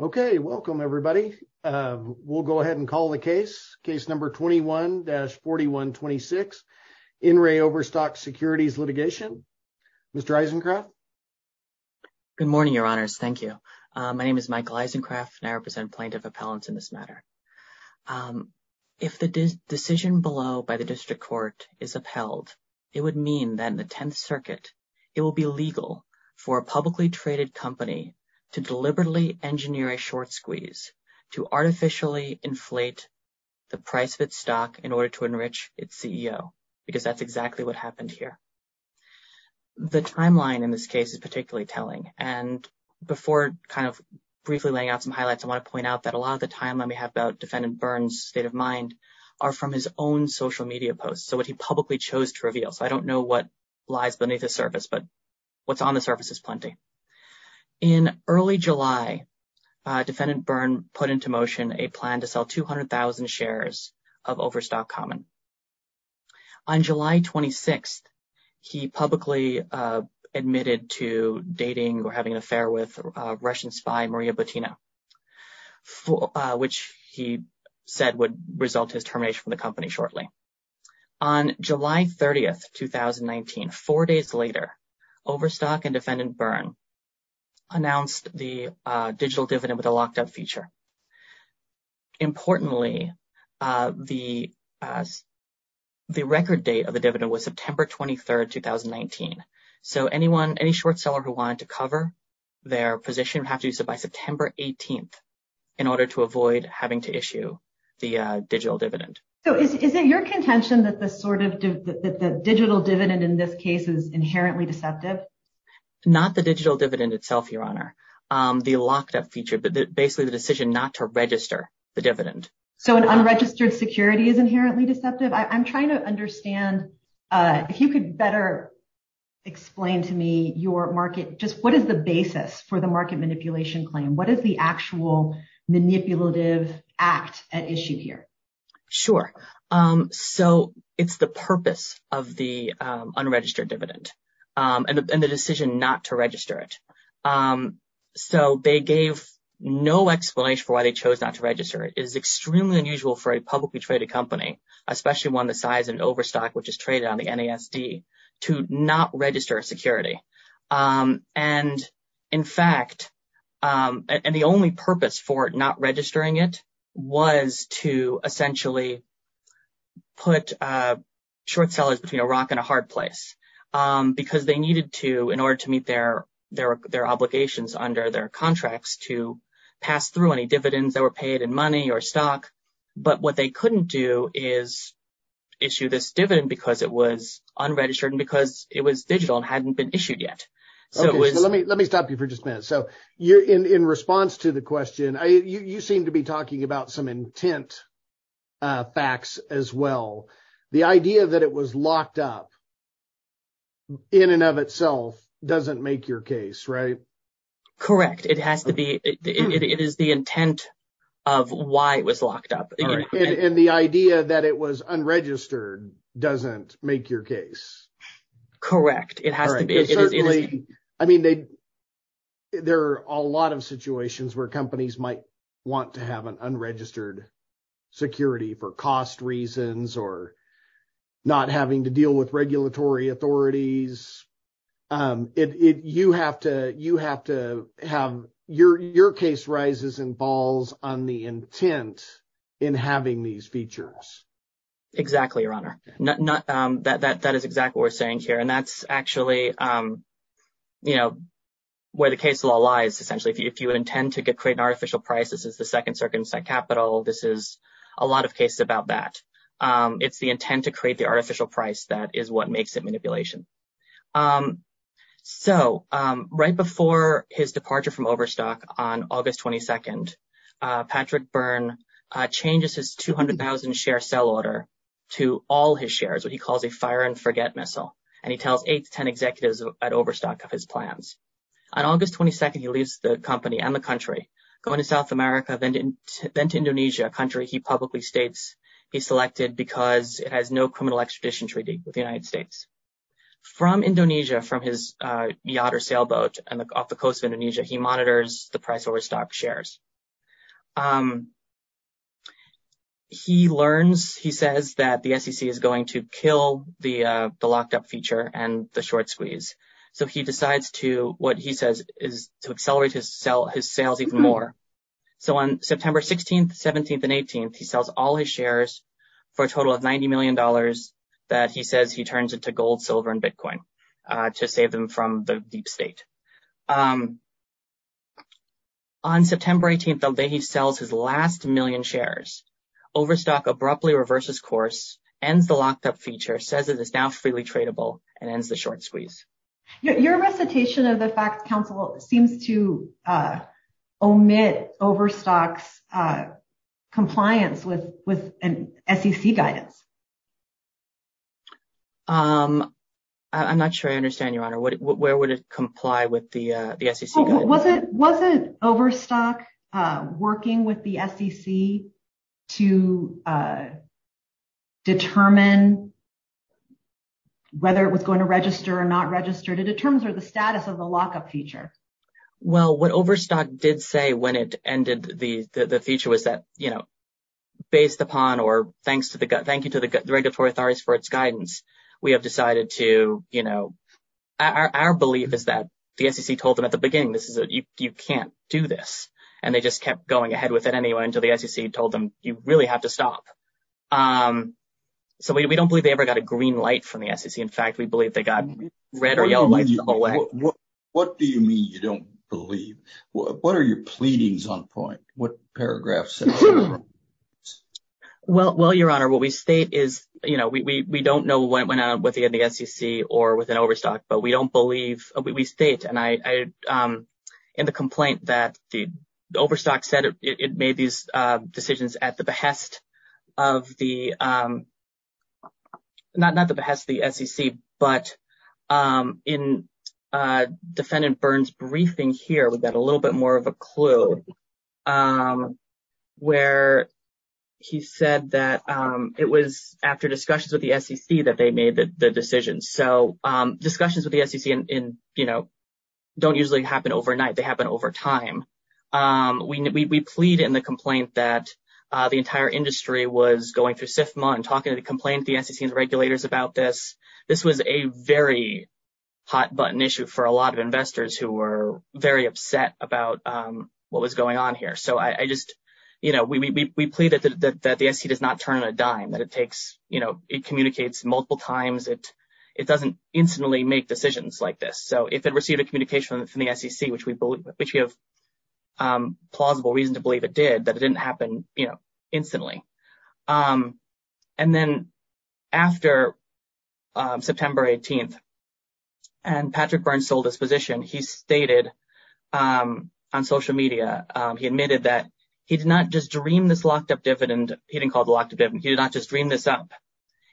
Okay, welcome everybody. We'll go ahead and call the case. Case number 21-4126. In re. Overstock Securities Litigation. Mr. Isencroft? Good morning, your honors. Thank you. My name is Michael Isencroft and I represent Plaintiff Appellants in this matter. If the decision below by the district court is upheld, it would mean that in the 10th Circuit, it will be legal for a publicly traded company to deliberately engineer a short squeeze to artificially inflate the price of its stock in order to enrich its CEO, because that's exactly what happened here. The timeline in this case is particularly telling. And before kind of briefly laying out some highlights, I want to point out that a lot of the timeline we have about Defendant Byrne's state of mind are from his own social media posts. So what he publicly chose to reveal. So I don't know what lies beneath the surface, but what's on the surface is plenty. In early July, Defendant Byrne put into motion a plan to sell 200,000 shares of Overstock Common. On July 26th, he publicly admitted to dating or having an affair with Russian spy Maria Botina, which he said would result his termination from the company shortly. On July 30th, 2019, four days later, Overstock and Defendant Byrne announced the digital dividend with a locked up feature. Importantly, the record date of the dividend was September 23rd, 2019. So anyone, any short seller who wanted to cover their position would have to do so by September 18th in order to avoid having to issue the digital dividend. So is it your contention that the sort of digital dividend in this case is inherently deceptive? Not the digital dividend itself, Your Honor. The locked up feature, but basically the decision not to register the dividend. So an unregistered security is inherently deceptive. I'm trying to understand if you could better explain to me your market. Just what is the basis for the market manipulation claim? What is the actual manipulative act at issue here? Sure. So it's the purpose of the unregistered dividend and the decision not to register it. So they gave no explanation for why they chose not to register. It is extremely unusual for a publicly traded company, especially one the size of Overstock, which is traded on the NASD, to not register security. And in fact, and the only purpose for not registering it was to essentially put short sellers between a rock and a hard place because they needed to, in order to meet their obligations under their contracts, to pass through any dividends that were paid in money or stock. But what they couldn't do is issue this dividend because it was unregistered and because it was digital and hadn't been issued yet. So let me stop you for just a minute. So in response to the question, you seem to be talking about some intent facts as well. The idea that it was locked up in and of itself doesn't make your case, right? Correct. It has to be. It is the intent of why it was locked up. And the idea that it was unregistered doesn't make your case. Correct. It has to be. I mean, there are a lot of situations where companies might want to have an unregistered security for cost reasons or not having to deal with regulatory authorities. Your case rises and falls on the intent in having these features. Exactly, Your Honor. That is exactly what we're saying here. And that's actually where the case law lies, essentially. If you intend to create an artificial price, this is the second circumcised capital. This is a lot of cases about that. It's the intent to create the artificial price. That is what makes it manipulation. So right before his departure from Overstock on August 22nd, Patrick Byrne changes his 200,000 share sell order to all his shares, what he calls a fire and forget missile. And he tells eight to 10 executives at Overstock of his plans. On August 22nd, he leaves the company and the country, going to South America, then to Indonesia, a country he publicly states he selected because it has no criminal extradition treaty with the United States. From Indonesia, from his yacht or sailboat off the coast of Indonesia, he monitors the price Overstock shares. He learns, he says that the SEC is going to kill the locked up feature and the short squeeze. So he decides to what he says is to accelerate his sales even more. So on September 16th, 17th and 18th, he sells all his shares for a total of $90 million that he says he turns into gold, silver and Bitcoin to save them from the deep state. On September 18th, he sells his last million shares. Overstock abruptly reverses course, ends the locked up feature, says it is now freely tradable and ends the short squeeze. Your recitation of the facts council seems to omit Overstock's compliance with SEC guidance. I'm not sure I understand your honor, where would it comply with the SEC? Wasn't Overstock working with the SEC to determine whether it was going to register or not register to determine the status of the lockup feature? Well, what Overstock did say when it ended the feature was that, you know, based upon or thanks to the gut, thank you to the regulatory authorities for its guidance. We have decided to, you know, our belief is that the SEC told them at the beginning, this is you can't do this. And they just kept going ahead with it anyway until the SEC told them you really have to stop. So we don't believe they ever got a green light from the SEC. In fact, we believe they got red or yellow lights the whole way. What do you mean you don't believe what are your pleadings on point? What paragraphs? Well, your honor, what we state is, you know, we don't know what went on with the SEC or with an Overstock, but we don't believe we state. And I in the complaint that the Overstock said it made these decisions at the behest of the not at the behest of the SEC. But in defendant Burns briefing here, we've got a little bit more of a clue where he said that it was after discussions with the SEC that they made the decision. So discussions with the SEC and, you know, don't usually happen overnight. They happen over time. We plead in the complaint that the entire industry was going through SIFMA and talking to the complaint, the SEC and regulators about this. This was a very hot button issue for a lot of investors who were very upset about what was going on here. So I just you know, we plead that the SEC does not turn on a dime that it takes. You know, it communicates multiple times that it doesn't instantly make decisions like this. So if it received a communication from the SEC, which we believe which we have plausible reason to believe it did, that it didn't happen instantly. And then after September 18th and Patrick Burns sold his position, he stated on social media, he admitted that he did not just dream this locked up dividend. He didn't call the lockdown. He did not just dream this up.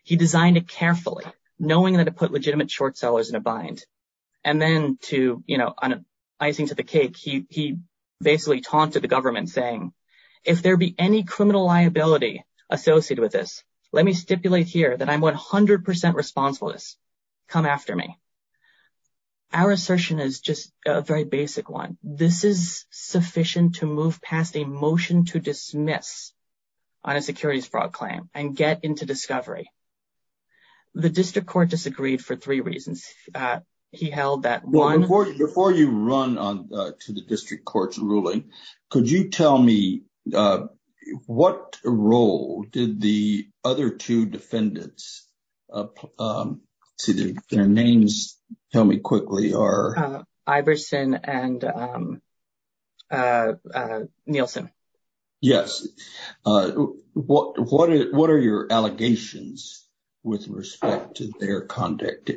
He designed it carefully, knowing that it put legitimate short sellers in a bind. And then to, you know, icing to the cake, he basically taunted the government saying, if there be any criminal liability associated with this, let me stipulate here that I'm 100 percent responsible to come after me. Our assertion is just a very basic one. This is sufficient to move past a motion to dismiss on a securities fraud claim and get into discovery. The district court disagreed for three reasons. He held that one. Before you run on to the district court's ruling, could you tell me what role did the other two defendants see their names? Tell me quickly are Iverson and Nielsen. Yes. What what what are your allegations with respect to their conduct?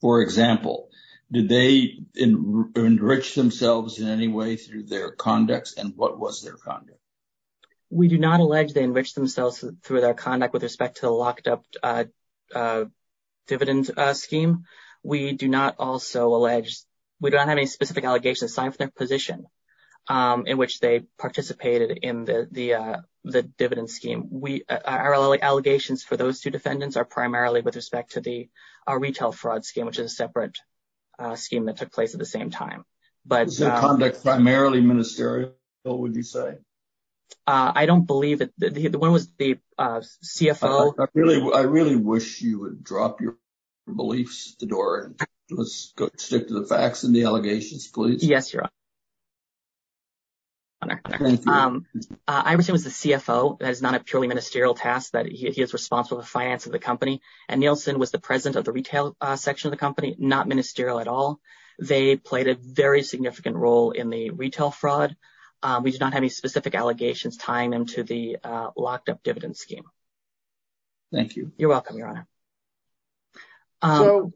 For example, did they enrich themselves in any way through their conduct? And what was their conduct? We do not allege they enrich themselves through their conduct with respect to a locked up dividend scheme. We do not also allege we don't have any specific allegations signed for their position in which they participated in the dividend scheme. We are allegations for those two defendants are primarily with respect to the retail fraud scheme, which is a separate scheme that took place at the same time. But conduct primarily ministerial. What would you say? I don't believe that the one was the CFO. Really? I really wish you would drop your beliefs the door. Let's stick to the facts and the allegations, please. Yes. Iverson was the CFO. That is not a purely ministerial task that he is responsible for the finance of the company. And Nielsen was the president of the retail section of the company, not ministerial at all. They played a very significant role in the retail fraud. We do not have any specific allegations tying them to the locked up dividend scheme. Thank you. You're welcome, Your Honor.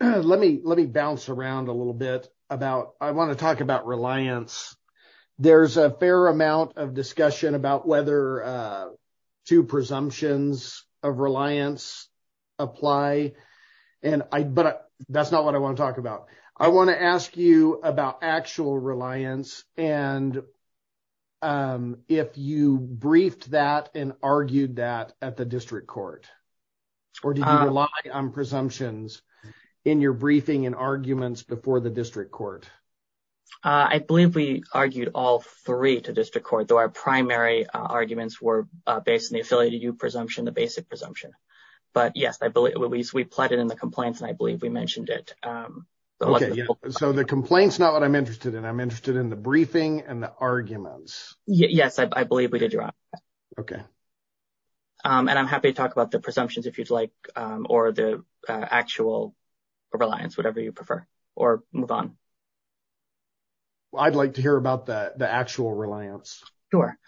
Let me let me bounce around a little bit about I want to talk about reliance. There's a fair amount of discussion about whether two presumptions of reliance apply. And I but that's not what I want to talk about. I want to ask you about actual reliance. And if you briefed that and argued that at the district court or did you rely on presumptions in your briefing and arguments before the district court? I believe we argued all three to district court, though our primary arguments were based in the affiliate presumption, the basic presumption. But, yes, I believe we plotted in the complaints and I believe we mentioned it. So the complaints, not what I'm interested in. I'm interested in the briefing and the arguments. Yes, I believe we did. OK. And I'm happy to talk about the presumptions if you'd like or the actual reliance, whatever you prefer or move on. I'd like to hear about the actual reliance. Sure.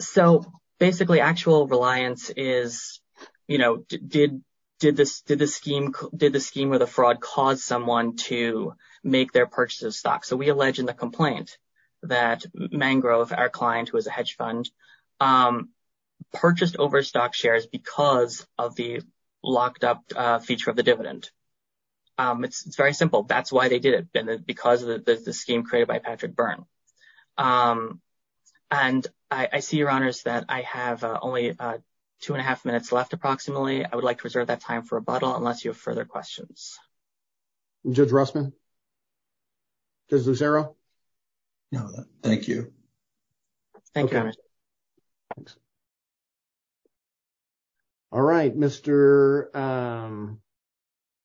So basically, actual reliance is, you know, did did this did this scheme? Did the scheme of the fraud cause someone to make their purchases stock? So we allege in the complaint that mangrove, our client was a hedge fund purchased overstock shares because of the locked up feature of the dividend. It's very simple. That's why they did it because of the scheme created by Patrick Byrne. And I see your honors that I have only two and a half minutes left. Approximately. I would like to reserve that time for a bottle unless you have further questions. Judge Rossman. Zero. No, thank you. Thank you. All right, Mr.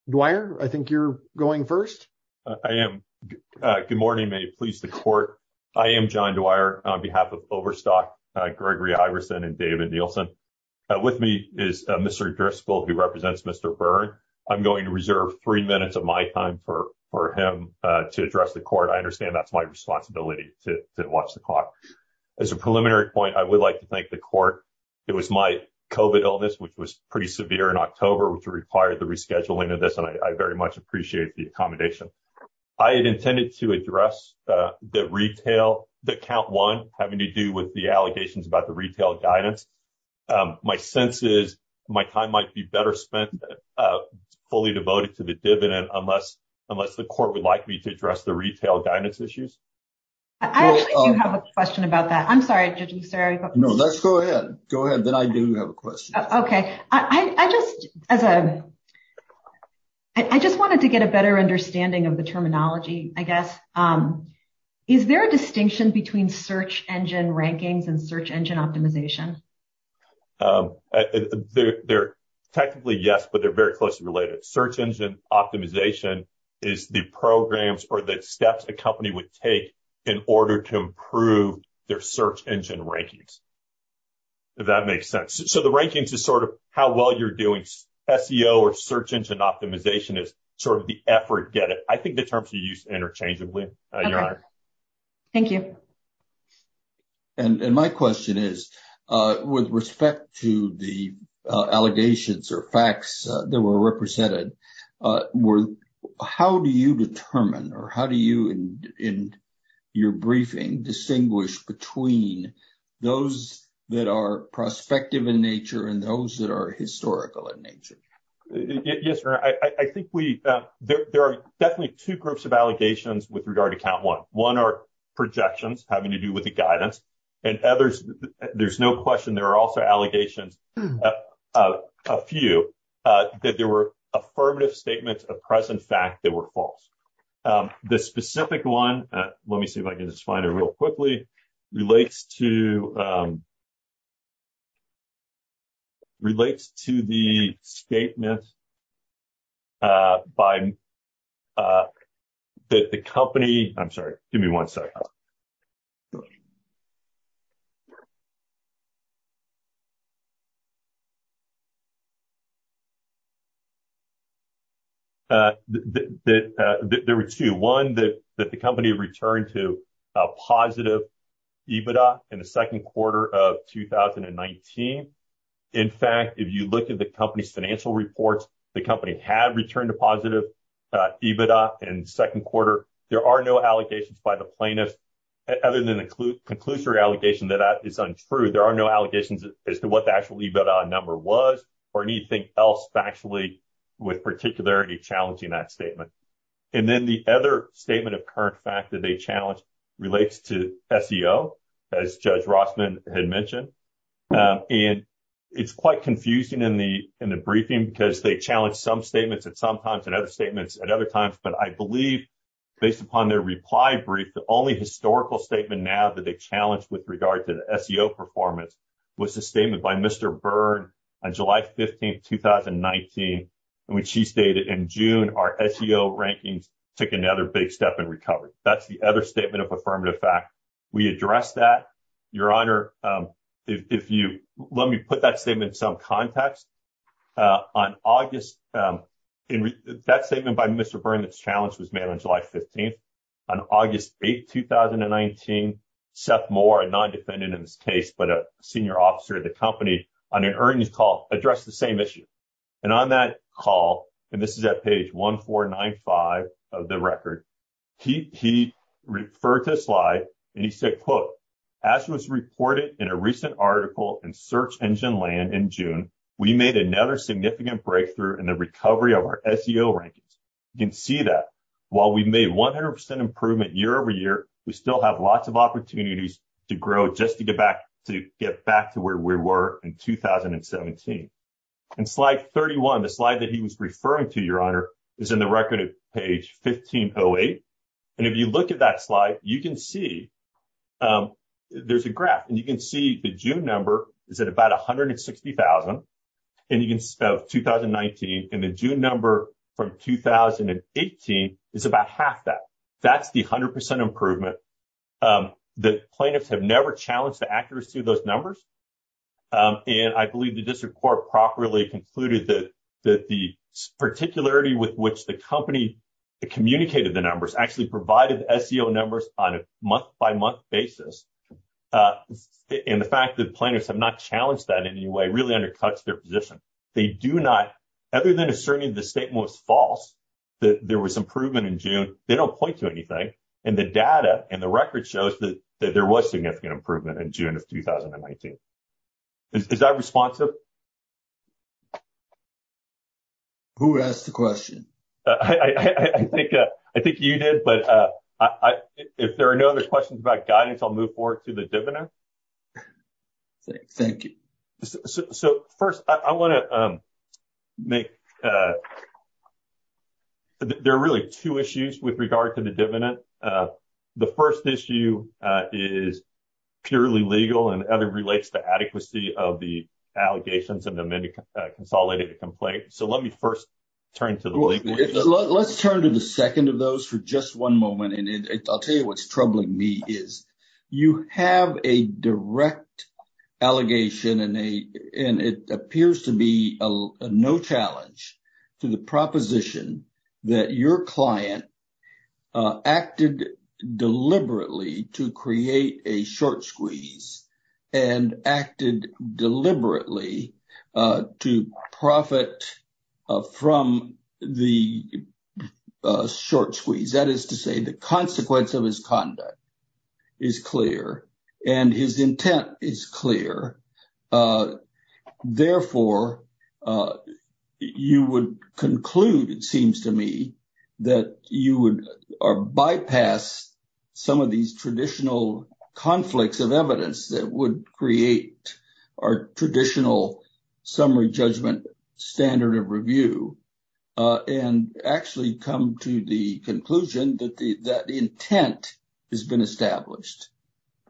Dwyer, I think you're going 1st. I am. Good morning. May it please the court. I am John Dwyer on behalf of overstock Gregory Iverson and David Nielsen. With me is Mr. Driscoll, who represents Mr. Byrne. I'm going to reserve 3 minutes of my time for him to address the court. I understand that's my responsibility to watch the clock as a preliminary point. I would like to thank the court. It was my covid illness, which was pretty severe in October, which required the rescheduling of this. And I very much appreciate the accommodation. I had intended to address the retail that count one having to do with the allegations about the retail guidance. My sense is my time might be better spent fully devoted to the dividend unless unless the court would like me to address the retail guidance issues. I do have a question about that. I'm sorry. No, let's go ahead. Go ahead. Then I do have a question. OK, I just as a I just wanted to get a better understanding of the terminology, I guess. Is there a distinction between search engine rankings and search engine optimization? They're technically yes, but they're very closely related. Search engine optimization is the programs or the steps a company would take in order to improve their search engine rankings. That makes sense. So the rankings is sort of how well you're doing SEO or search engine optimization is sort of the effort. Get it. I think the terms are used interchangeably. Thank you. And my question is, with respect to the allegations or facts that were represented, how do you determine or how do you in your briefing distinguish between those that are prospective in nature and those that are historical in nature? Yes. I think we there are definitely two groups of allegations with regard to count one. One are projections having to do with the guidance and others. There's no question. There are also allegations of a few that there were affirmative statements of present fact that were false. The specific one. Let me see if I can just find a real quickly relates to. Relates to the statement. By the company. I'm sorry. Give me one second. There were two. One, that the company returned to a positive EBITDA in the second quarter of 2019. In fact, if you look at the company's financial reports, the company had returned to positive EBITDA in second quarter. There are no allegations by the plaintiff, other than the conclusory allegation that that is untrue. There are no allegations as to what the actual EBITDA number was, or anything else factually with particularity challenging that statement. And then the other statement of current fact that they challenge relates to SEO, as Judge Rossman had mentioned. And it's quite confusing in the in the briefing, because they challenge some statements at some times and other statements at other times. But I believe based upon their reply brief, the only historical statement now that they challenged with regard to the SEO performance was a statement by Mr. Byrd on July 15th, 2019, which he stated in June. Our SEO rankings took another big step in recovery. That's the other statement of affirmative fact. We address that. Your honor, if you let me put that statement in some context. On August, that statement by Mr. Byrd that's challenged was made on July 15th. On August 8th, 2019, Seth Moore, a non-defendant in this case, but a senior officer at the company, on an earnings call addressed the same issue. And on that call, and this is at page 1495 of the record, he referred to a slide and he said, quote, As was reported in a recent article in Search Engine Land in June, we made another significant breakthrough in the recovery of our SEO rankings. You can see that while we made 100% improvement year over year, we still have lots of opportunities to grow just to get back to get back to where we were in 2017. And slide 31, the slide that he was referring to, your honor, is in the record at page 1508. And if you look at that slide, you can see there's a graph and you can see the June number is at about 160,000. And you can see 2019 and the June number from 2018 is about half that. That's the 100% improvement. The plaintiffs have never challenged the accuracy of those numbers. And I believe the district court properly concluded that the particularity with which the company communicated the numbers actually provided SEO numbers on a month by month basis. And the fact that plaintiffs have not challenged that in any way really undercuts their position. They do not, other than asserting the statement was false, that there was improvement in June. They don't point to anything. And the data and the record shows that there was significant improvement in June of 2019. Is that responsive? Who asked the question? I think I think you did. But if there are no other questions about guidance, I'll move forward to the diviner. Thank you. So, first, I want to make. There are really two issues with regard to the dividend. The first issue is purely legal and other relates to adequacy of the allegations of the consolidated complaint. So let me first turn to the legal. Let's turn to the second of those for just one moment. And I'll tell you what's troubling me is you have a direct allegation and a and it appears to be no challenge to the proposition that your client acted deliberately to create a short squeeze and acted deliberately to profit from the short squeeze. That is to say, the consequence of his conduct is clear and his intent is clear. Therefore, you would conclude, it seems to me that you would bypass some of these traditional conflicts of evidence that would create our traditional summary judgment standard of review. And actually come to the conclusion that the intent has been established.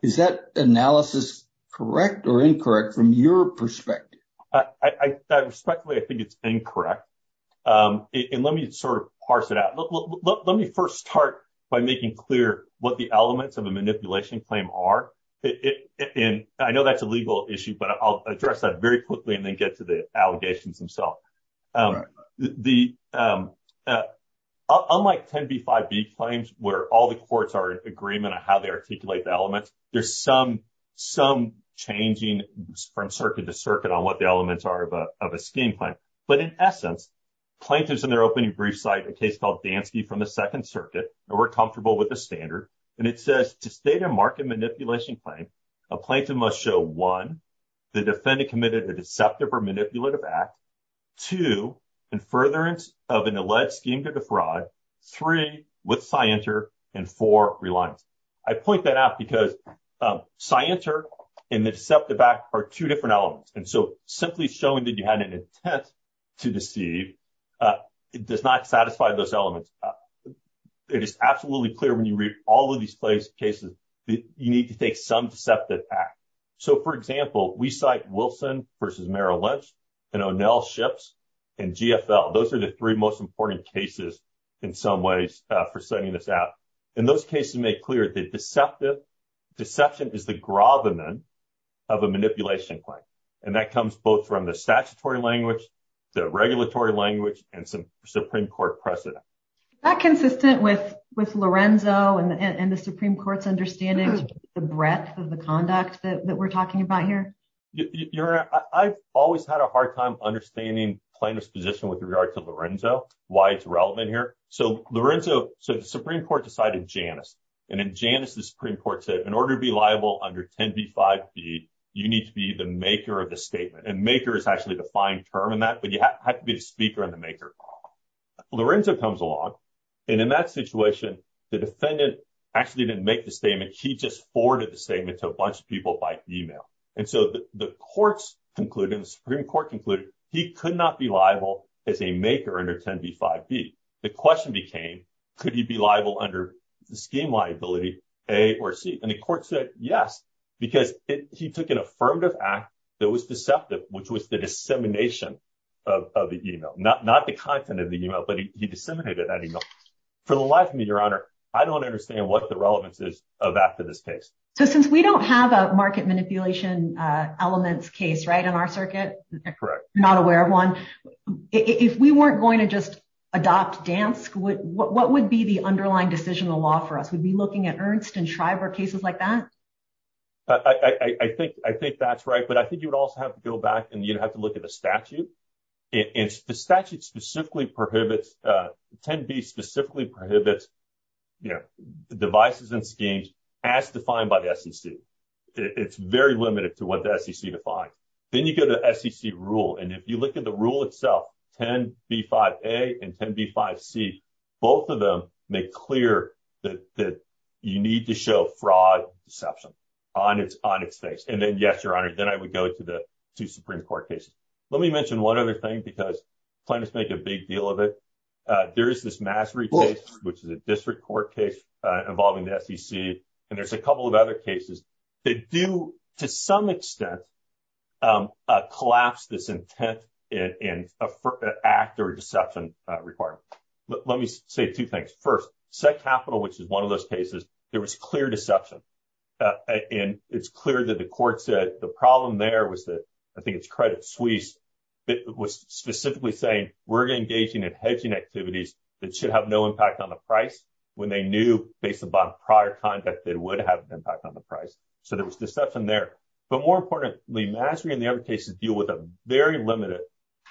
Is that analysis correct or incorrect from your perspective? I respectfully I think it's incorrect. And let me sort of parse it out. Let me first start by making clear what the elements of a manipulation claim are. And I know that's a legal issue, but I'll address that very quickly and then get to the allegations themselves. The unlike 10B5B claims where all the courts are in agreement on how they articulate the elements. There's some some changing from circuit to circuit on what the elements are of a scheme claim. But in essence, plaintiffs in their opening brief cite a case called Dansky from the Second Circuit. And we're comfortable with the standard. And it says to state a market manipulation claim, a plaintiff must show one, the defendant committed a deceptive or manipulative act. Two, and furtherance of an alleged scheme to defraud. Three, with scienter and four reliance. I point that out because scienter and the deceptive act are two different elements. And so simply showing that you had an intent to deceive does not satisfy those elements. It is absolutely clear when you read all of these places, cases that you need to take some deceptive act. So, for example, we cite Wilson versus Merrill Lynch and O'Neill ships and GFL. Those are the three most important cases in some ways for sending this out. In those cases, make clear the deceptive deception is the grove and then have a manipulation claim. And that comes both from the statutory language, the regulatory language and some Supreme Court precedent. That consistent with with Lorenzo and the Supreme Court's understanding of the breadth of the conduct that we're talking about here. You're right. I've always had a hard time understanding plaintiff's position with regard to Lorenzo, why it's relevant here. So Lorenzo. So the Supreme Court decided Janice and in Janice, the Supreme Court said in order to be liable under 10 B5B, you need to be the maker of the statement and maker is actually the fine term in that. But you have to be the speaker and the maker. Lorenzo comes along. And in that situation, the defendant actually didn't make the statement. He just forwarded the statement to a bunch of people by email. And so the courts concluded in the Supreme Court concluded he could not be liable as a maker under 10 B5B. The question became, could he be liable under the scheme liability A or C? And the court said yes, because he took an affirmative act that was deceptive, which was the dissemination of the email, not not the content of the email, but he disseminated that email. For the life of me, Your Honor, I don't understand what the relevance is of that to this case. So since we don't have a market manipulation elements case right in our circuit. Correct. Not aware of one. If we weren't going to just adopt dance, what would be the underlying decisional law for us? We'd be looking at Ernst and Shriver cases like that. I think I think that's right. But I think you would also have to go back and you'd have to look at the statute. It's the statute specifically prohibits 10 B specifically prohibits devices and schemes as defined by the SEC. It's very limited to what the SEC defined. Then you go to SEC rule. And if you look at the rule itself, 10 B5A and 10 B5C, both of them make clear that you need to show fraud deception on its on its face. And then, yes, Your Honor, then I would go to the two Supreme Court cases. Let me mention one other thing, because plaintiffs make a big deal of it. There is this mastery case, which is a district court case involving the SEC. And there's a couple of other cases that do, to some extent, collapse this intent in an act or deception requirement. Let me say two things. First, SEC Capital, which is one of those cases, there was clear deception. And it's clear that the court said the problem there was that I think it's Credit Suisse that was specifically saying we're engaging in hedging activities that should have no impact on the price when they knew, based upon prior conduct, it would have an impact on the price. So there was deception there. But more importantly, mastery and the other cases deal with a very limited,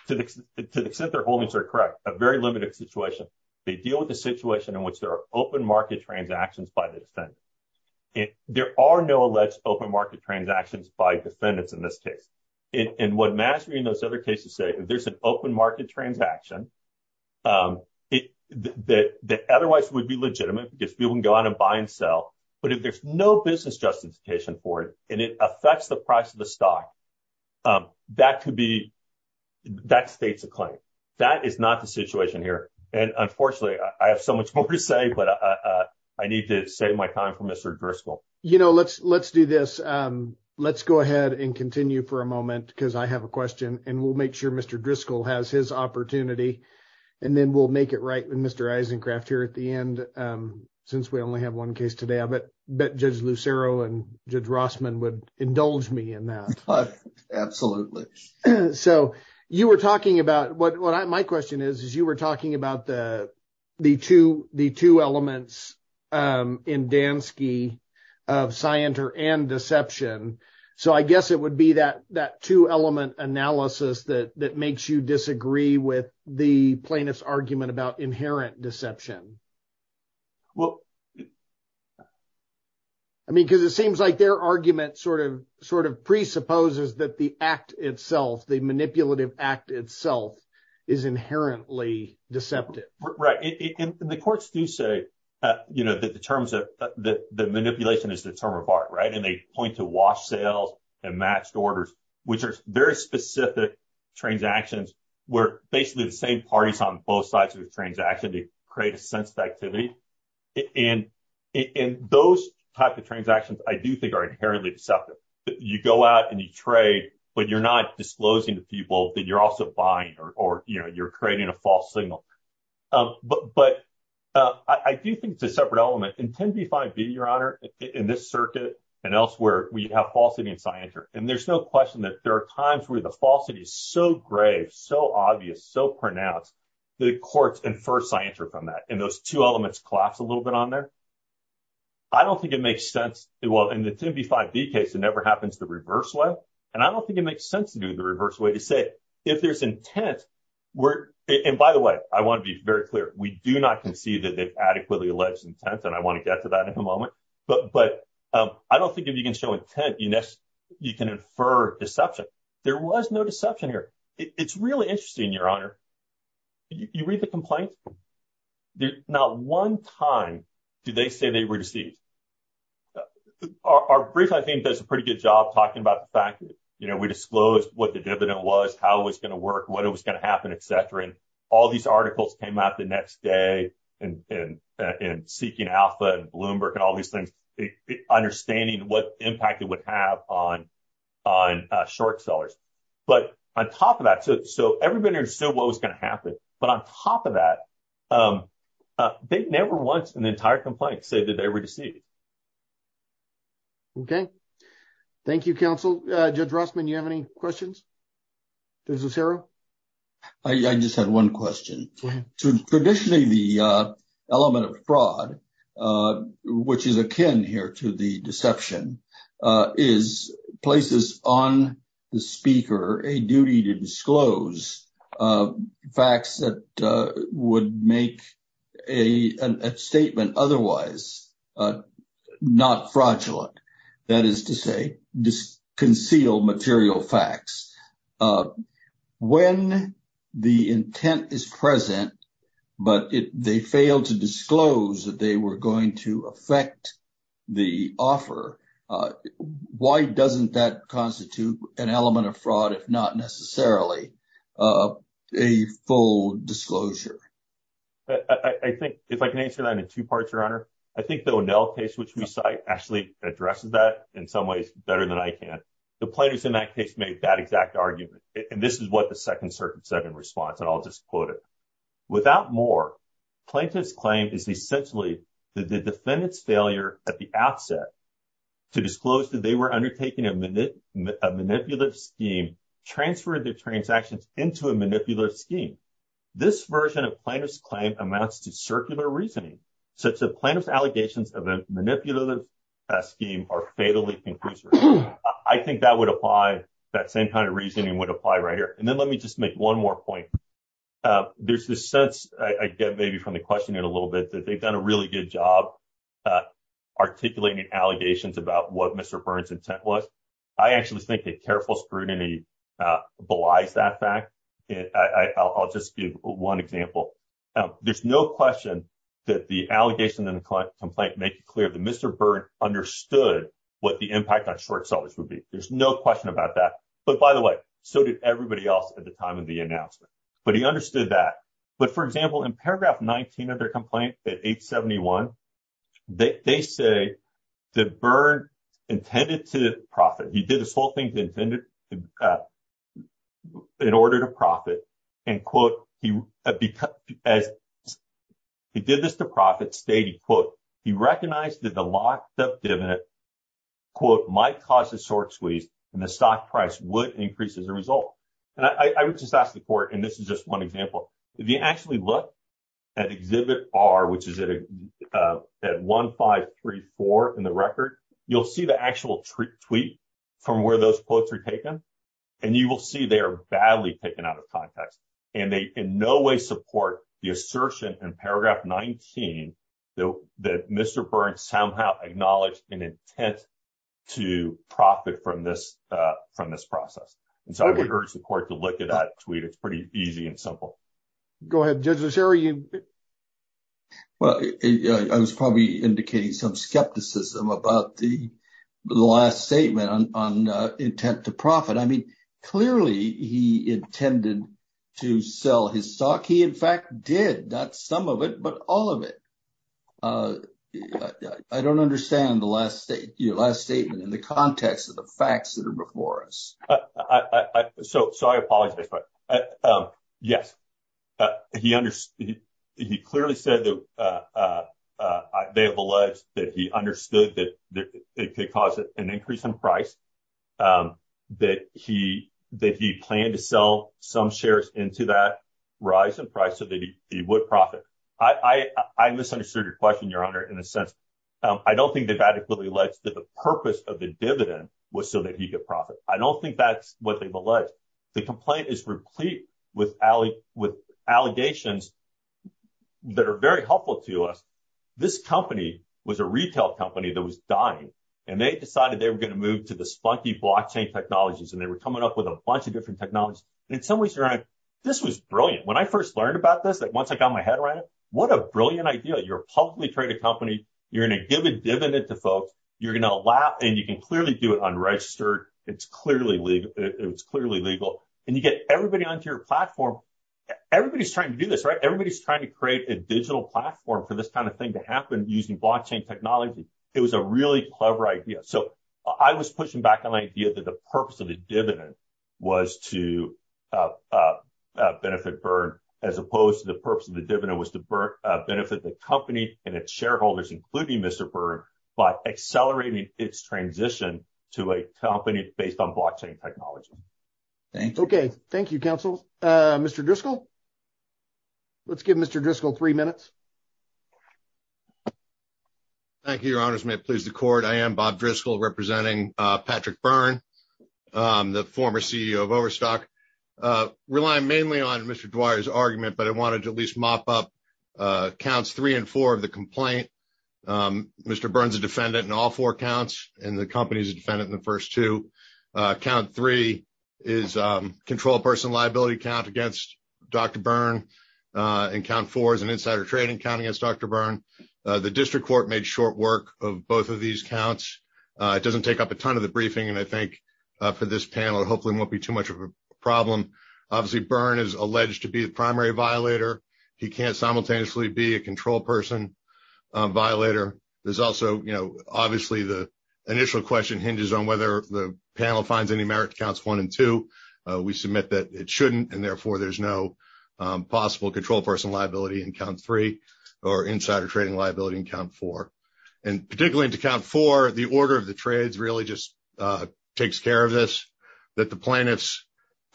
to the extent their holdings are correct, a very limited situation. They deal with the situation in which there are open market transactions by the defendant. There are no alleged open market transactions by defendants in this case. And what mastery and those other cases say, if there's an open market transaction that otherwise would be legitimate, because people can go out and buy and sell, but if there's no business justification for it and it affects the price of the stock, that states a claim. That is not the situation here. And unfortunately, I have so much more to say, but I need to save my time for Mr. Driscoll. You know, let's do this. Let's go ahead and continue for a moment, because I have a question, and we'll make sure Mr. Driscoll has his opportunity. And then we'll make it right with Mr. Eisencraft here at the end, since we only have one case today. I bet Judge Lucero and Judge Rossman would indulge me in that. Absolutely. So you were talking about what my question is, is you were talking about the two elements in Dansky of scienter and deception. So I guess it would be that that two element analysis that makes you disagree with the plaintiff's argument about inherent deception. Well, I mean, because it seems like their argument sort of sort of presupposes that the act itself, the manipulative act itself is inherently deceptive. Right. And the courts do say, you know, that the terms of the manipulation is the term of art. Right. And they point to wash sales and matched orders, which are very specific transactions where basically the same parties on both sides of the transaction to create a sense of activity. And in those type of transactions, I do think are inherently deceptive. You go out and you trade, but you're not disclosing to people that you're also buying or you're creating a false signal. But I do think it's a separate element. In 10b5b, your honor, in this circuit and elsewhere, we have falsity in scienter. And there's no question that there are times where the falsity is so grave, so obvious, so pronounced, the courts infer scienter from that. And those two elements collapse a little bit on there. I don't think it makes sense. Well, in the 10b5b case, it never happens the reverse way. And I don't think it makes sense to do the reverse way to say if there's intent. And by the way, I want to be very clear. We do not concede that they've adequately alleged intent. And I want to get to that in a moment. But but I don't think if you can show intent, you can infer deception. There was no deception here. It's really interesting, your honor. You read the complaint. Not one time do they say they were deceived. Our brief, I think, does a pretty good job talking about the fact that, you know, we disclosed what the dividend was, how it was going to work, what it was going to happen, etc. And all these articles came out the next day and in seeking alpha and Bloomberg and all these things, understanding what impact it would have on on short sellers. But on top of that, so everybody understood what was going to happen. But on top of that, they never once in the entire complaint say that they were deceived. OK, thank you, counsel. Judge Rossman, you have any questions? There's a zero. I just had one question. Traditionally, the element of fraud, which is akin here to the deception, is places on the speaker a duty to disclose facts that would make a statement otherwise not fraudulent. That is to say, just conceal material facts when the intent is present. But if they fail to disclose that they were going to affect the offer, why doesn't that constitute an element of fraud, if not necessarily a full disclosure? I think if I can answer that in two parts, Your Honor, I think the O'Neill case, which we cite, actually addresses that in some ways better than I can. The plaintiffs in that case made that exact argument. And this is what the Second Circuit said in response. And I'll just quote it. Without more, plaintiffs claim is essentially that the defendant's failure at the outset to disclose that they were undertaking a manipulative scheme transferred their transactions into a manipulative scheme. This version of plaintiff's claim amounts to circular reasoning, such that plaintiff's allegations of a manipulative scheme are fatally conclusive. I think that would apply. That same kind of reasoning would apply right here. And then let me just make one more point. There's this sense I get maybe from the question in a little bit that they've done a really good job articulating allegations about what Mr. Burns' intent was. I actually think that careful scrutiny belies that fact. I'll just give one example. There's no question that the allegation in the complaint makes it clear that Mr. Burns understood what the impact on short sellers would be. There's no question about that. But by the way, so did everybody else at the time of the announcement. But he understood that. But for example, in paragraph 19 of their complaint at 871, they say that Burns intended to profit. He did this whole thing in order to profit. And quote, he did this to profit stating, quote, he recognized that the loss of dividend, quote, might cause a short squeeze and the stock price would increase as a result. And I would just ask the court, and this is just one example, if you actually look at Exhibit R, which is at 1534 in the record, you'll see the actual tweet from where those quotes are taken. And you will see they are badly taken out of context. And they in no way support the assertion in paragraph 19 that Mr. Burns somehow acknowledged an intent to profit from this process. And so I would urge the court to look at that tweet. It's pretty easy and simple. Go ahead, Judge LaSher. Well, I was probably indicating some skepticism about the last statement on intent to profit. I mean, clearly he intended to sell his stock. He, in fact, did not some of it, but all of it. I don't understand the last statement in the context of the facts that are before us. So I apologize. Yes, he clearly said that they have alleged that he understood that it could cause an increase in price, that he planned to sell some shares into that rise in price so that he would profit. I misunderstood your question, Your Honor, in a sense. I don't think they've adequately alleged that the purpose of the dividend was so that he could profit. I don't think that's what they've alleged. The complaint is replete with allegations that are very helpful to us. This company was a retail company that was dying, and they decided they were going to move to the spunky blockchain technologies, and they were coming up with a bunch of different technologies. In some ways, Your Honor, this was brilliant. When I first learned about this, once I got my head around it, what a brilliant idea. You're a publicly traded company. You're going to give a dividend to folks. You're going to allow, and you can clearly do it unregistered. It's clearly legal, and you get everybody onto your platform. Everybody's trying to do this, right? Everybody's trying to create a digital platform for this kind of thing to happen using blockchain technology. It was a really clever idea. I was pushing back on the idea that the purpose of the dividend was to benefit Byrne, as opposed to the purpose of the dividend was to benefit the company and its shareholders, including Mr. Byrne, by accelerating its transition to a company based on blockchain technology. Okay. Thank you, counsel. Mr. Driscoll? Let's give Mr. Driscoll three minutes. Thank you, Your Honors. May it please the Court. I am Bob Driscoll, representing Patrick Byrne, the former CEO of Overstock. I rely mainly on Mr. Dwyer's argument, but I wanted to at least mop up counts three and four of the complaint. Mr. Byrne's a defendant in all four counts, and the company's a defendant in the first two. Count three is control person liability count against Dr. Byrne, and count four is an insider trading count against Dr. Byrne. The district court made short work of both of these counts. It doesn't take up a ton of the briefing, and I think for this panel, it hopefully won't be too much of a problem. Obviously, Byrne is alleged to be the primary violator. He can't simultaneously be a control person violator. There's also, you know, obviously the initial question hinges on whether the panel finds any merit to counts one and two. We submit that it shouldn't, and therefore there's no possible control person liability in count three or insider trading liability in count four. And particularly to count four, the order of the trades really just takes care of this, that the plaintiff's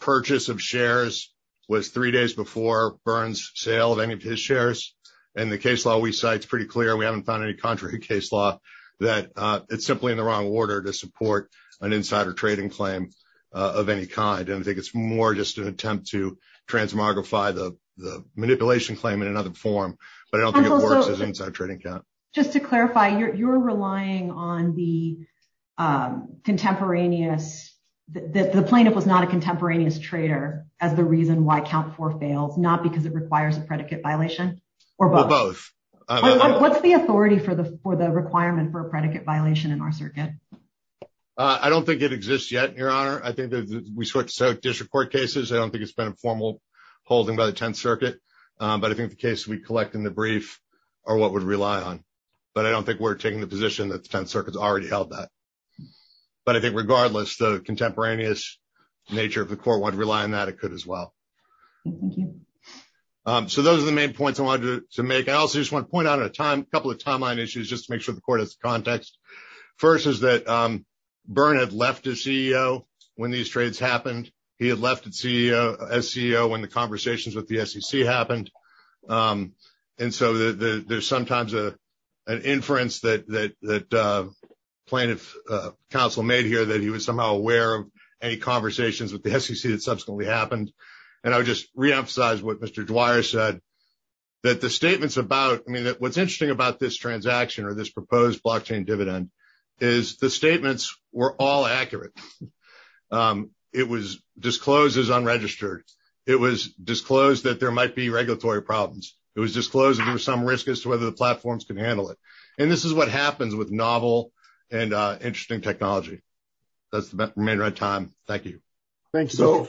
purchase of shares was three days before Byrne's sale of any of his shares. And the case law we cite is pretty clear. We haven't found any contrary case law that it's simply in the wrong order to support an insider trading claim of any kind. And I think it's more just an attempt to transmogrify the manipulation claim in another form, but I don't think it works as an insider trading count. Just to clarify, you're relying on the contemporaneous that the plaintiff was not a contemporaneous trader as the reason why count four fails, not because it requires a predicate violation or both. What's the authority for the for the requirement for a predicate violation in our circuit? I don't think it exists yet, Your Honor. I think we switch to district court cases. I don't think it's been a formal holding by the 10th Circuit, but I think the case we collect in the brief or what would rely on. But I don't think we're taking the position that the 10th Circuit's already held that. But I think regardless the contemporaneous nature of the court would rely on that it could as well. So those are the main points I wanted to make. I also just want to point out a couple of timeline issues just to make sure the court has context. First is that Bern had left his CEO when these trades happened. He had left as CEO when the conversations with the SEC happened. And so there's sometimes an inference that plaintiff counsel made here that he was somehow aware of any conversations with the SEC that subsequently happened. And I would just reemphasize what Mr. Dwyer said that the statements about I mean that what's interesting about this transaction or this proposed blockchain dividend is the statements were all accurate. It was disclosed as unregistered. It was disclosed that there might be regulatory problems. It was disclosed there was some risk as to whether the platforms can handle it. And this is what happens with novel and interesting technology. That's the main right time. Thank you. So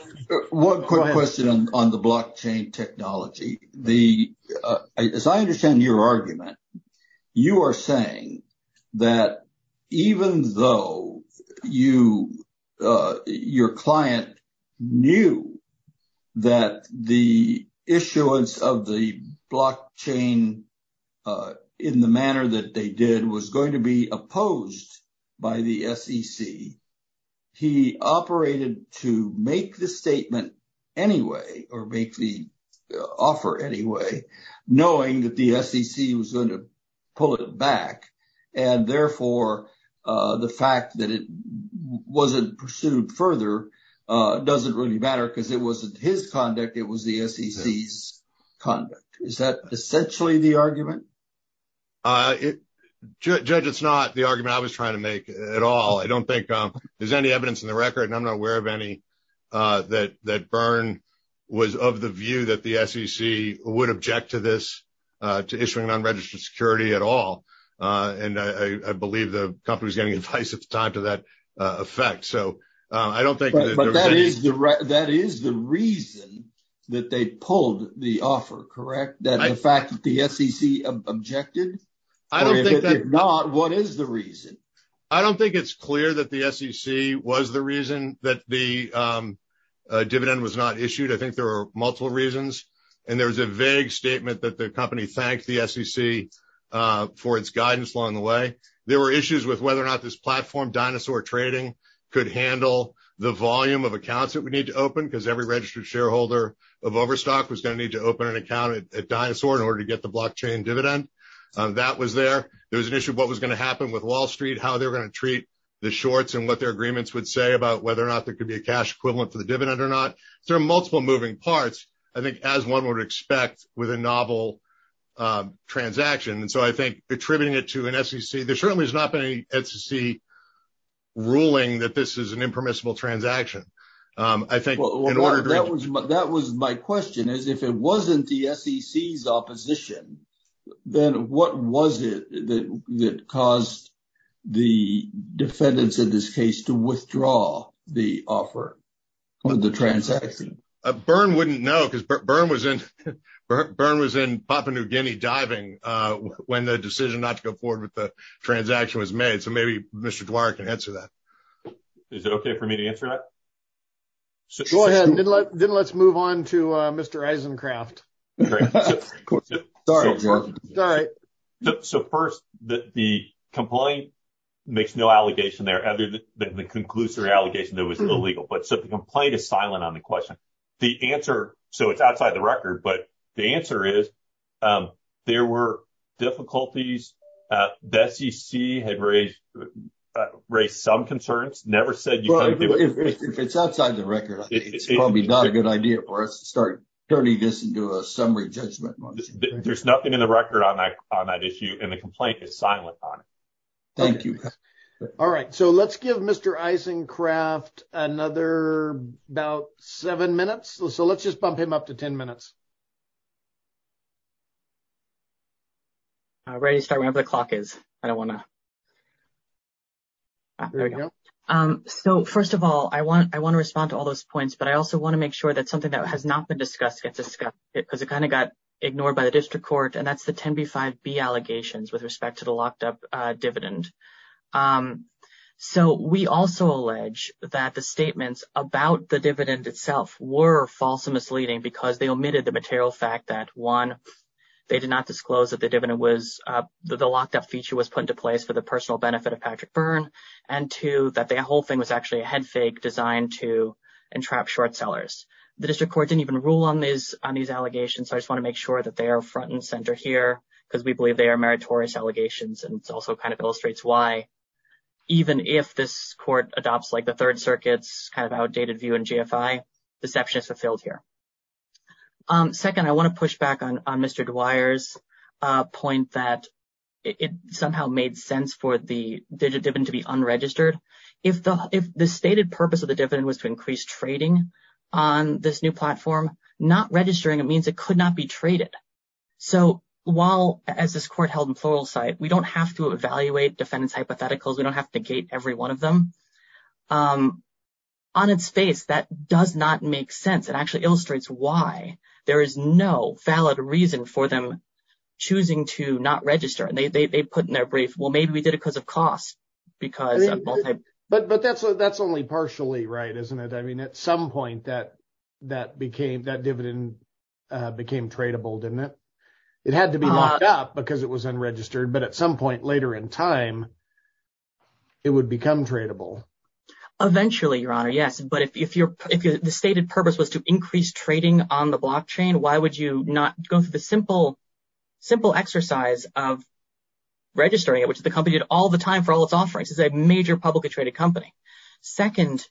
one quick question on the blockchain technology. As I understand your argument, you are saying that even though you your client knew that the issuance of the block chain in the manner that they did was going to be opposed by the SEC. He operated to make the statement anyway or make the offer anyway, knowing that the SEC was going to pull it back. And therefore, the fact that it wasn't pursued further doesn't really matter because it wasn't his conduct. It was the SEC's conduct. Is that essentially the argument? Judge, it's not the argument I was trying to make at all. I don't think there's any evidence in the record. And I'm not aware of any that that Byrne was of the view that the SEC would object to this to issuing an unregistered security at all. And I believe the company was getting advice at the time to that effect. So I don't think. But that is the that is the reason that they pulled the offer. Correct. That in fact, the SEC objected. I don't think they're not. What is the reason? I don't think it's clear that the SEC was the reason that the dividend was not issued. I think there are multiple reasons. And there was a vague statement that the company thanked the SEC for its guidance along the way. There were issues with whether or not this platform dinosaur trading could handle the volume of accounts that we need to open, because every registered shareholder of Overstock was going to need to open an account at Dinosaur in order to get the block chain dividend. That was there. There was an issue of what was going to happen with Wall Street, how they're going to treat the shorts and what their agreements would say about whether or not there could be a cash equivalent for the dividend or not. There are multiple moving parts, I think, as one would expect with a novel transaction. And so I think attributing it to an SEC, there certainly is not any SEC ruling that this is an impermissible transaction. I think that was that was my question is if it wasn't the SEC's opposition, then what was it that caused the defendants in this case to withdraw the offer of the transaction? Byrne wouldn't know because Byrne was in Byrne was in Papua New Guinea diving when the decision not to go forward with the transaction was made. So maybe Mr. Dwyer can answer that. Is it OK for me to answer that? So then let's move on to Mr. Eisencraft. So first, the complaint makes no allegation there other than the conclusory allegation that was illegal. But so the complaint is silent on the question. The answer. So it's outside the record. But the answer is there were difficulties. The SEC had raised some concerns, never said it's outside the record. It's probably not a good idea for us to start turning this into a summary judgment. There's nothing in the record on that issue. And the complaint is silent on it. Thank you. All right. So let's give Mr. Eisencraft another about seven minutes. So let's just bump him up to 10 minutes. Ready to start whenever the clock is. I don't want to. So, first of all, I want I want to respond to all those points, but I also want to make sure that something that has not been discussed gets discussed because it kind of got ignored by the district court. And that's the 10B5B allegations with respect to the locked up dividend. So we also allege that the statements about the dividend itself were false and misleading because they omitted the material fact that, one, they did not disclose that the dividend was the locked up feature was put into place for the personal benefit of Patrick Byrne. And two, that the whole thing was actually a head fake designed to entrap short sellers. The district court didn't even rule on these on these allegations. I just want to make sure that they are front and center here because we believe they are meritorious allegations. And it's also kind of illustrates why, even if this court adopts like the Third Circuit's kind of outdated view and GFI, deception is fulfilled here. Second, I want to push back on Mr. Dwyer's point that it somehow made sense for the dividend to be unregistered. If the stated purpose of the dividend was to increase trading on this new platform, not registering it means it could not be traded. So while as this court held in plural site, we don't have to evaluate defendant's hypotheticals. We don't have to gate every one of them. On its face, that does not make sense. It actually illustrates why there is no valid reason for them choosing to not register. And they put in their brief, well, maybe we did it because of cost. But but that's that's only partially right, isn't it? I mean, at some point that that became that dividend became tradable, didn't it? It had to be locked up because it was unregistered. But at some point later in time, it would become tradable. Eventually, your honor. Yes. But if you're if the stated purpose was to increase trading on the block chain, why would you not go through the simple, simple exercise of registering it? Which the company did all the time for all its offerings is a major publicly traded company. Second,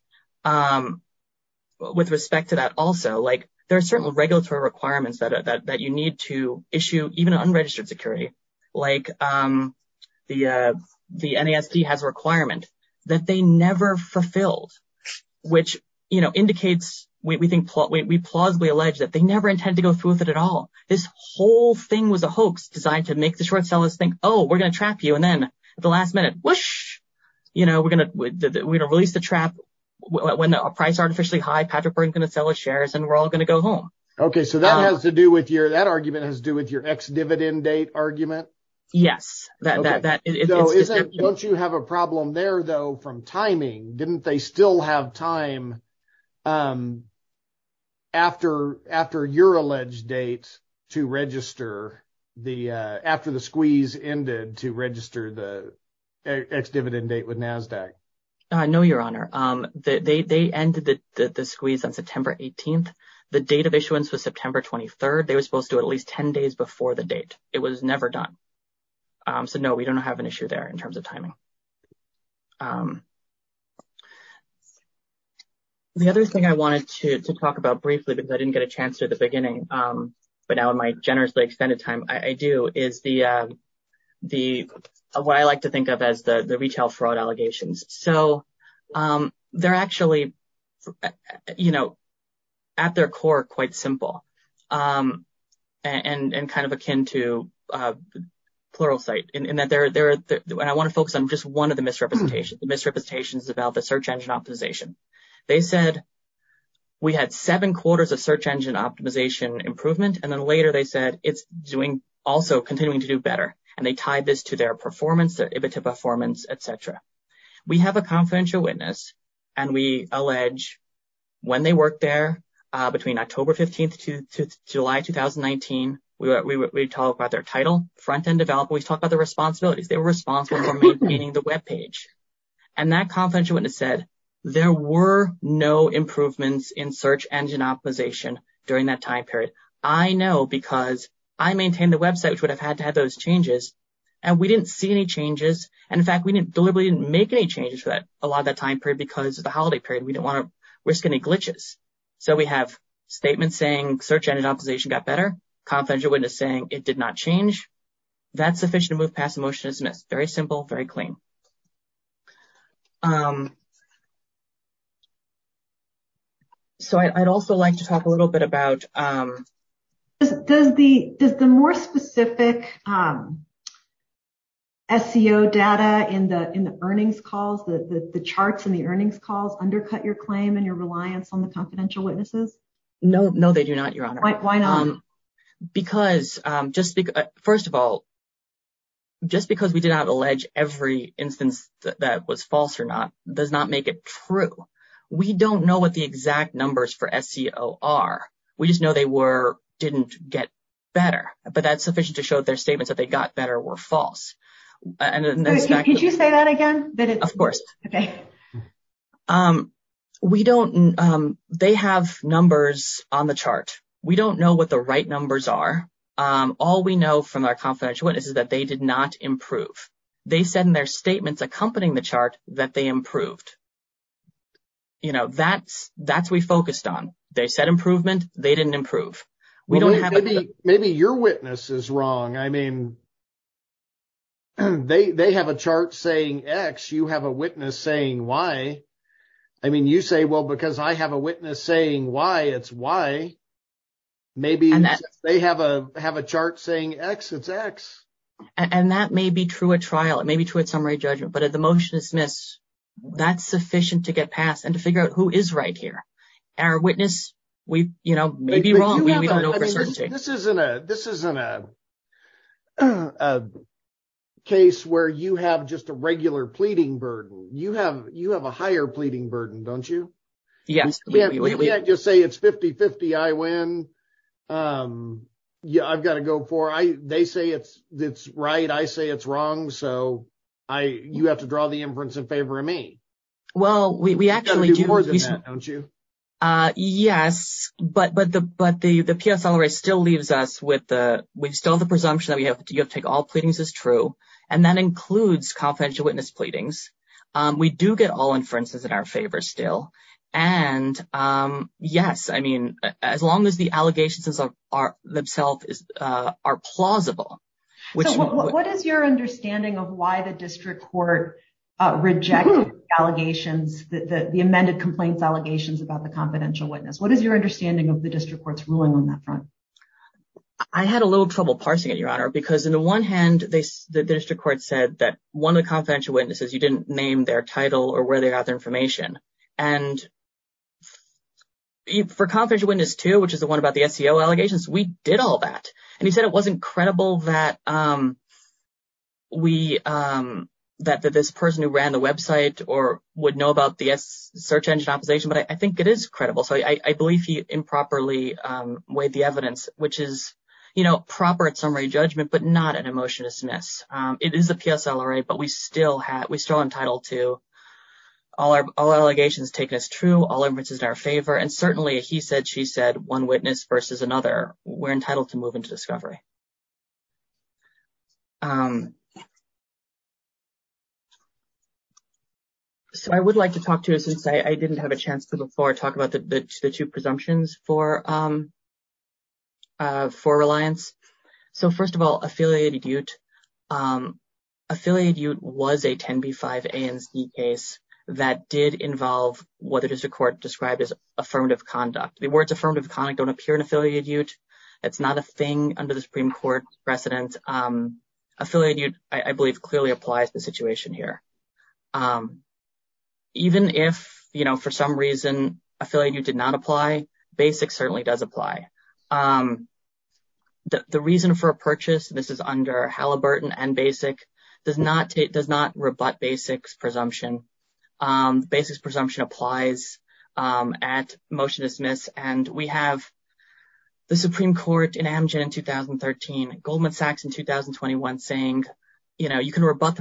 with respect to that also, like there are certain regulatory requirements that you need to issue, even unregistered security like the the NASD has a requirement that they never fulfilled, which, you know, indicates we think we plausibly allege that they never intend to go through with it at all. This whole thing was a hoax designed to make the short sellers think, oh, we're going to trap you. And then at the last minute, whoosh, you know, we're going to we're going to release the trap when the price artificially high. Patrick, we're going to sell the shares and we're all going to go home. OK, so that has to do with your that argument has to do with your ex dividend date argument. Yes, that is. Don't you have a problem there, though, from timing? Didn't they still have time after after your alleged date to register the after the squeeze ended to register the dividend date with NASDAQ? I know your honor that they ended the squeeze on September 18th. The date of issuance was September 23rd. They were supposed to at least 10 days before the date. It was never done. So, no, we don't have an issue there in terms of timing. The other thing I wanted to talk about briefly because I didn't get a chance to the beginning, but now in my generously extended time, I do is the the what I like to think of as the retail fraud allegations. So they're actually, you know, at their core, quite simple and kind of akin to pluralsight in that they're there. And I want to focus on just one of the misrepresentations, misrepresentations about the search engine optimization. They said we had seven quarters of search engine optimization improvement. And then later they said it's doing also continuing to do better. And they tied this to their performance, their EBITDA performance, et cetera. We have a confidential witness and we allege when they work there between October 15th to July 2019, we talk about their title, front end developer. We talk about the responsibilities. They were responsible for maintaining the Web page. And that confidential witness said there were no improvements in search engine optimization during that time period. I know because I maintain the Web site, which would have had to have those changes. And we didn't see any changes. And in fact, we didn't deliberately make any changes. But a lot of that time period, because of the holiday period, we don't want to risk any glitches. So we have statements saying search engine optimization got better. Confidential witness saying it did not change. That's sufficient to move past emotionlessness. Very simple, very clean. So. So I'd also like to talk a little bit about. Does the does the more specific. SEO data in the in the earnings calls, the charts and the earnings calls undercut your claim and your reliance on the confidential witnesses? No, no, they do not. You're right. Why not? Because just because first of all. Just because we did not allege every instance that was false or not does not make it true. We don't know what the exact numbers for SEO are. We just know they were didn't get better. But that's sufficient to show their statements that they got better were false. And could you say that again? Of course. OK. We don't. They have numbers on the chart. We don't know what the right numbers are. All we know from our confidential witnesses is that they did not improve. They said in their statements accompanying the chart that they improved. You know, that's that's we focused on. They said improvement. They didn't improve. Maybe your witness is wrong. I mean. They have a chart saying X. You have a witness saying Y. I mean, you say, well, because I have a witness saying Y, it's Y. Maybe they have a have a chart saying X, it's X. And that may be true at trial. It may be true at summary judgment. But at the motion dismiss, that's sufficient to get past and to figure out who is right here. Our witness, we may be wrong. We don't know for certain. This isn't a case where you have just a regular pleading burden. You have you have a higher pleading burden, don't you? Yes. We can't just say it's 50-50. I win. Yeah, I've got to go for I they say it's it's right. I say it's wrong. So I you have to draw the inference in favor of me. Well, we actually do more than that, don't you? Yes. But but the but the the PSLR still leaves us with the we've still the presumption that we have to take all pleadings is true. And that includes confidential witness pleadings. We do get all inferences in our favor still. And yes, I mean, as long as the allegations are are themselves are plausible. What is your understanding of why the district court reject allegations that the amended complaints allegations about the confidential witness? What is your understanding of the district court's ruling on that front? I had a little trouble parsing it, Your Honor, because in the one hand, the district court said that one of the confidential witnesses, you didn't name their title or where they got their information. And for confidential witness two, which is the one about the SEO allegations, we did all that. And he said it wasn't credible that we that that this person who ran the Web site or would know about the search engine opposition. But I think it is credible. So I believe he improperly weighed the evidence, which is, you know, proper summary judgment, but not an emotionless mess. It is a PSLR. But we still have we still entitled to all our allegations taken as true. All evidence is in our favor. And certainly he said she said one witness versus another. We're entitled to move into discovery. So I would like to talk to you since I didn't have a chance to before. Talk about the two presumptions for. For reliance. So first of all, affiliated youth, affiliated youth was a 10B5ANZ case that did involve what the district court described as affirmative conduct. The words affirmative conduct don't appear in affiliated youth. It's not a thing under the Supreme Court precedent. Affiliated youth, I believe, clearly applies the situation here. Even if, you know, for some reason affiliated youth did not apply, basic certainly does apply. The reason for a purchase, this is under Halliburton and basic, does not does not rebut basics presumption. Basics presumption applies at motion dismiss. And we have the Supreme Court in Amgen in 2013, Goldman Sachs in 2021 saying, you know, but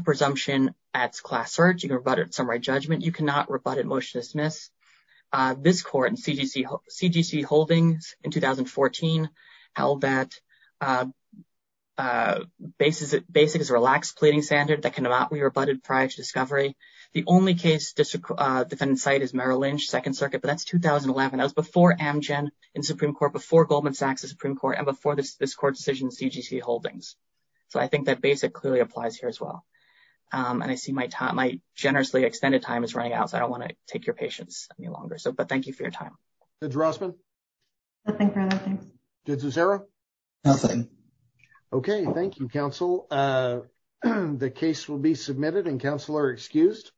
it's a right judgment. You cannot rebut it. Motion dismiss. This court and CDC, CDC holdings in 2014 held that basis. Basic is a relaxed pleading standard that cannot be rebutted prior to discovery. The only case district defendant site is Merrill Lynch, Second Circuit. But that's 2011. I was before Amgen in Supreme Court, before Goldman Sachs, the Supreme Court and before this court decision, CDC holdings. So I think that basic clearly applies here as well. And I see my time, my generously extended time is running out. So I don't want to take your patience any longer. So but thank you for your time. Judge Rossman? Nothing. Judge Zucero? Nothing. Okay. Thank you, counsel. The case will be submitted and counsel are excused.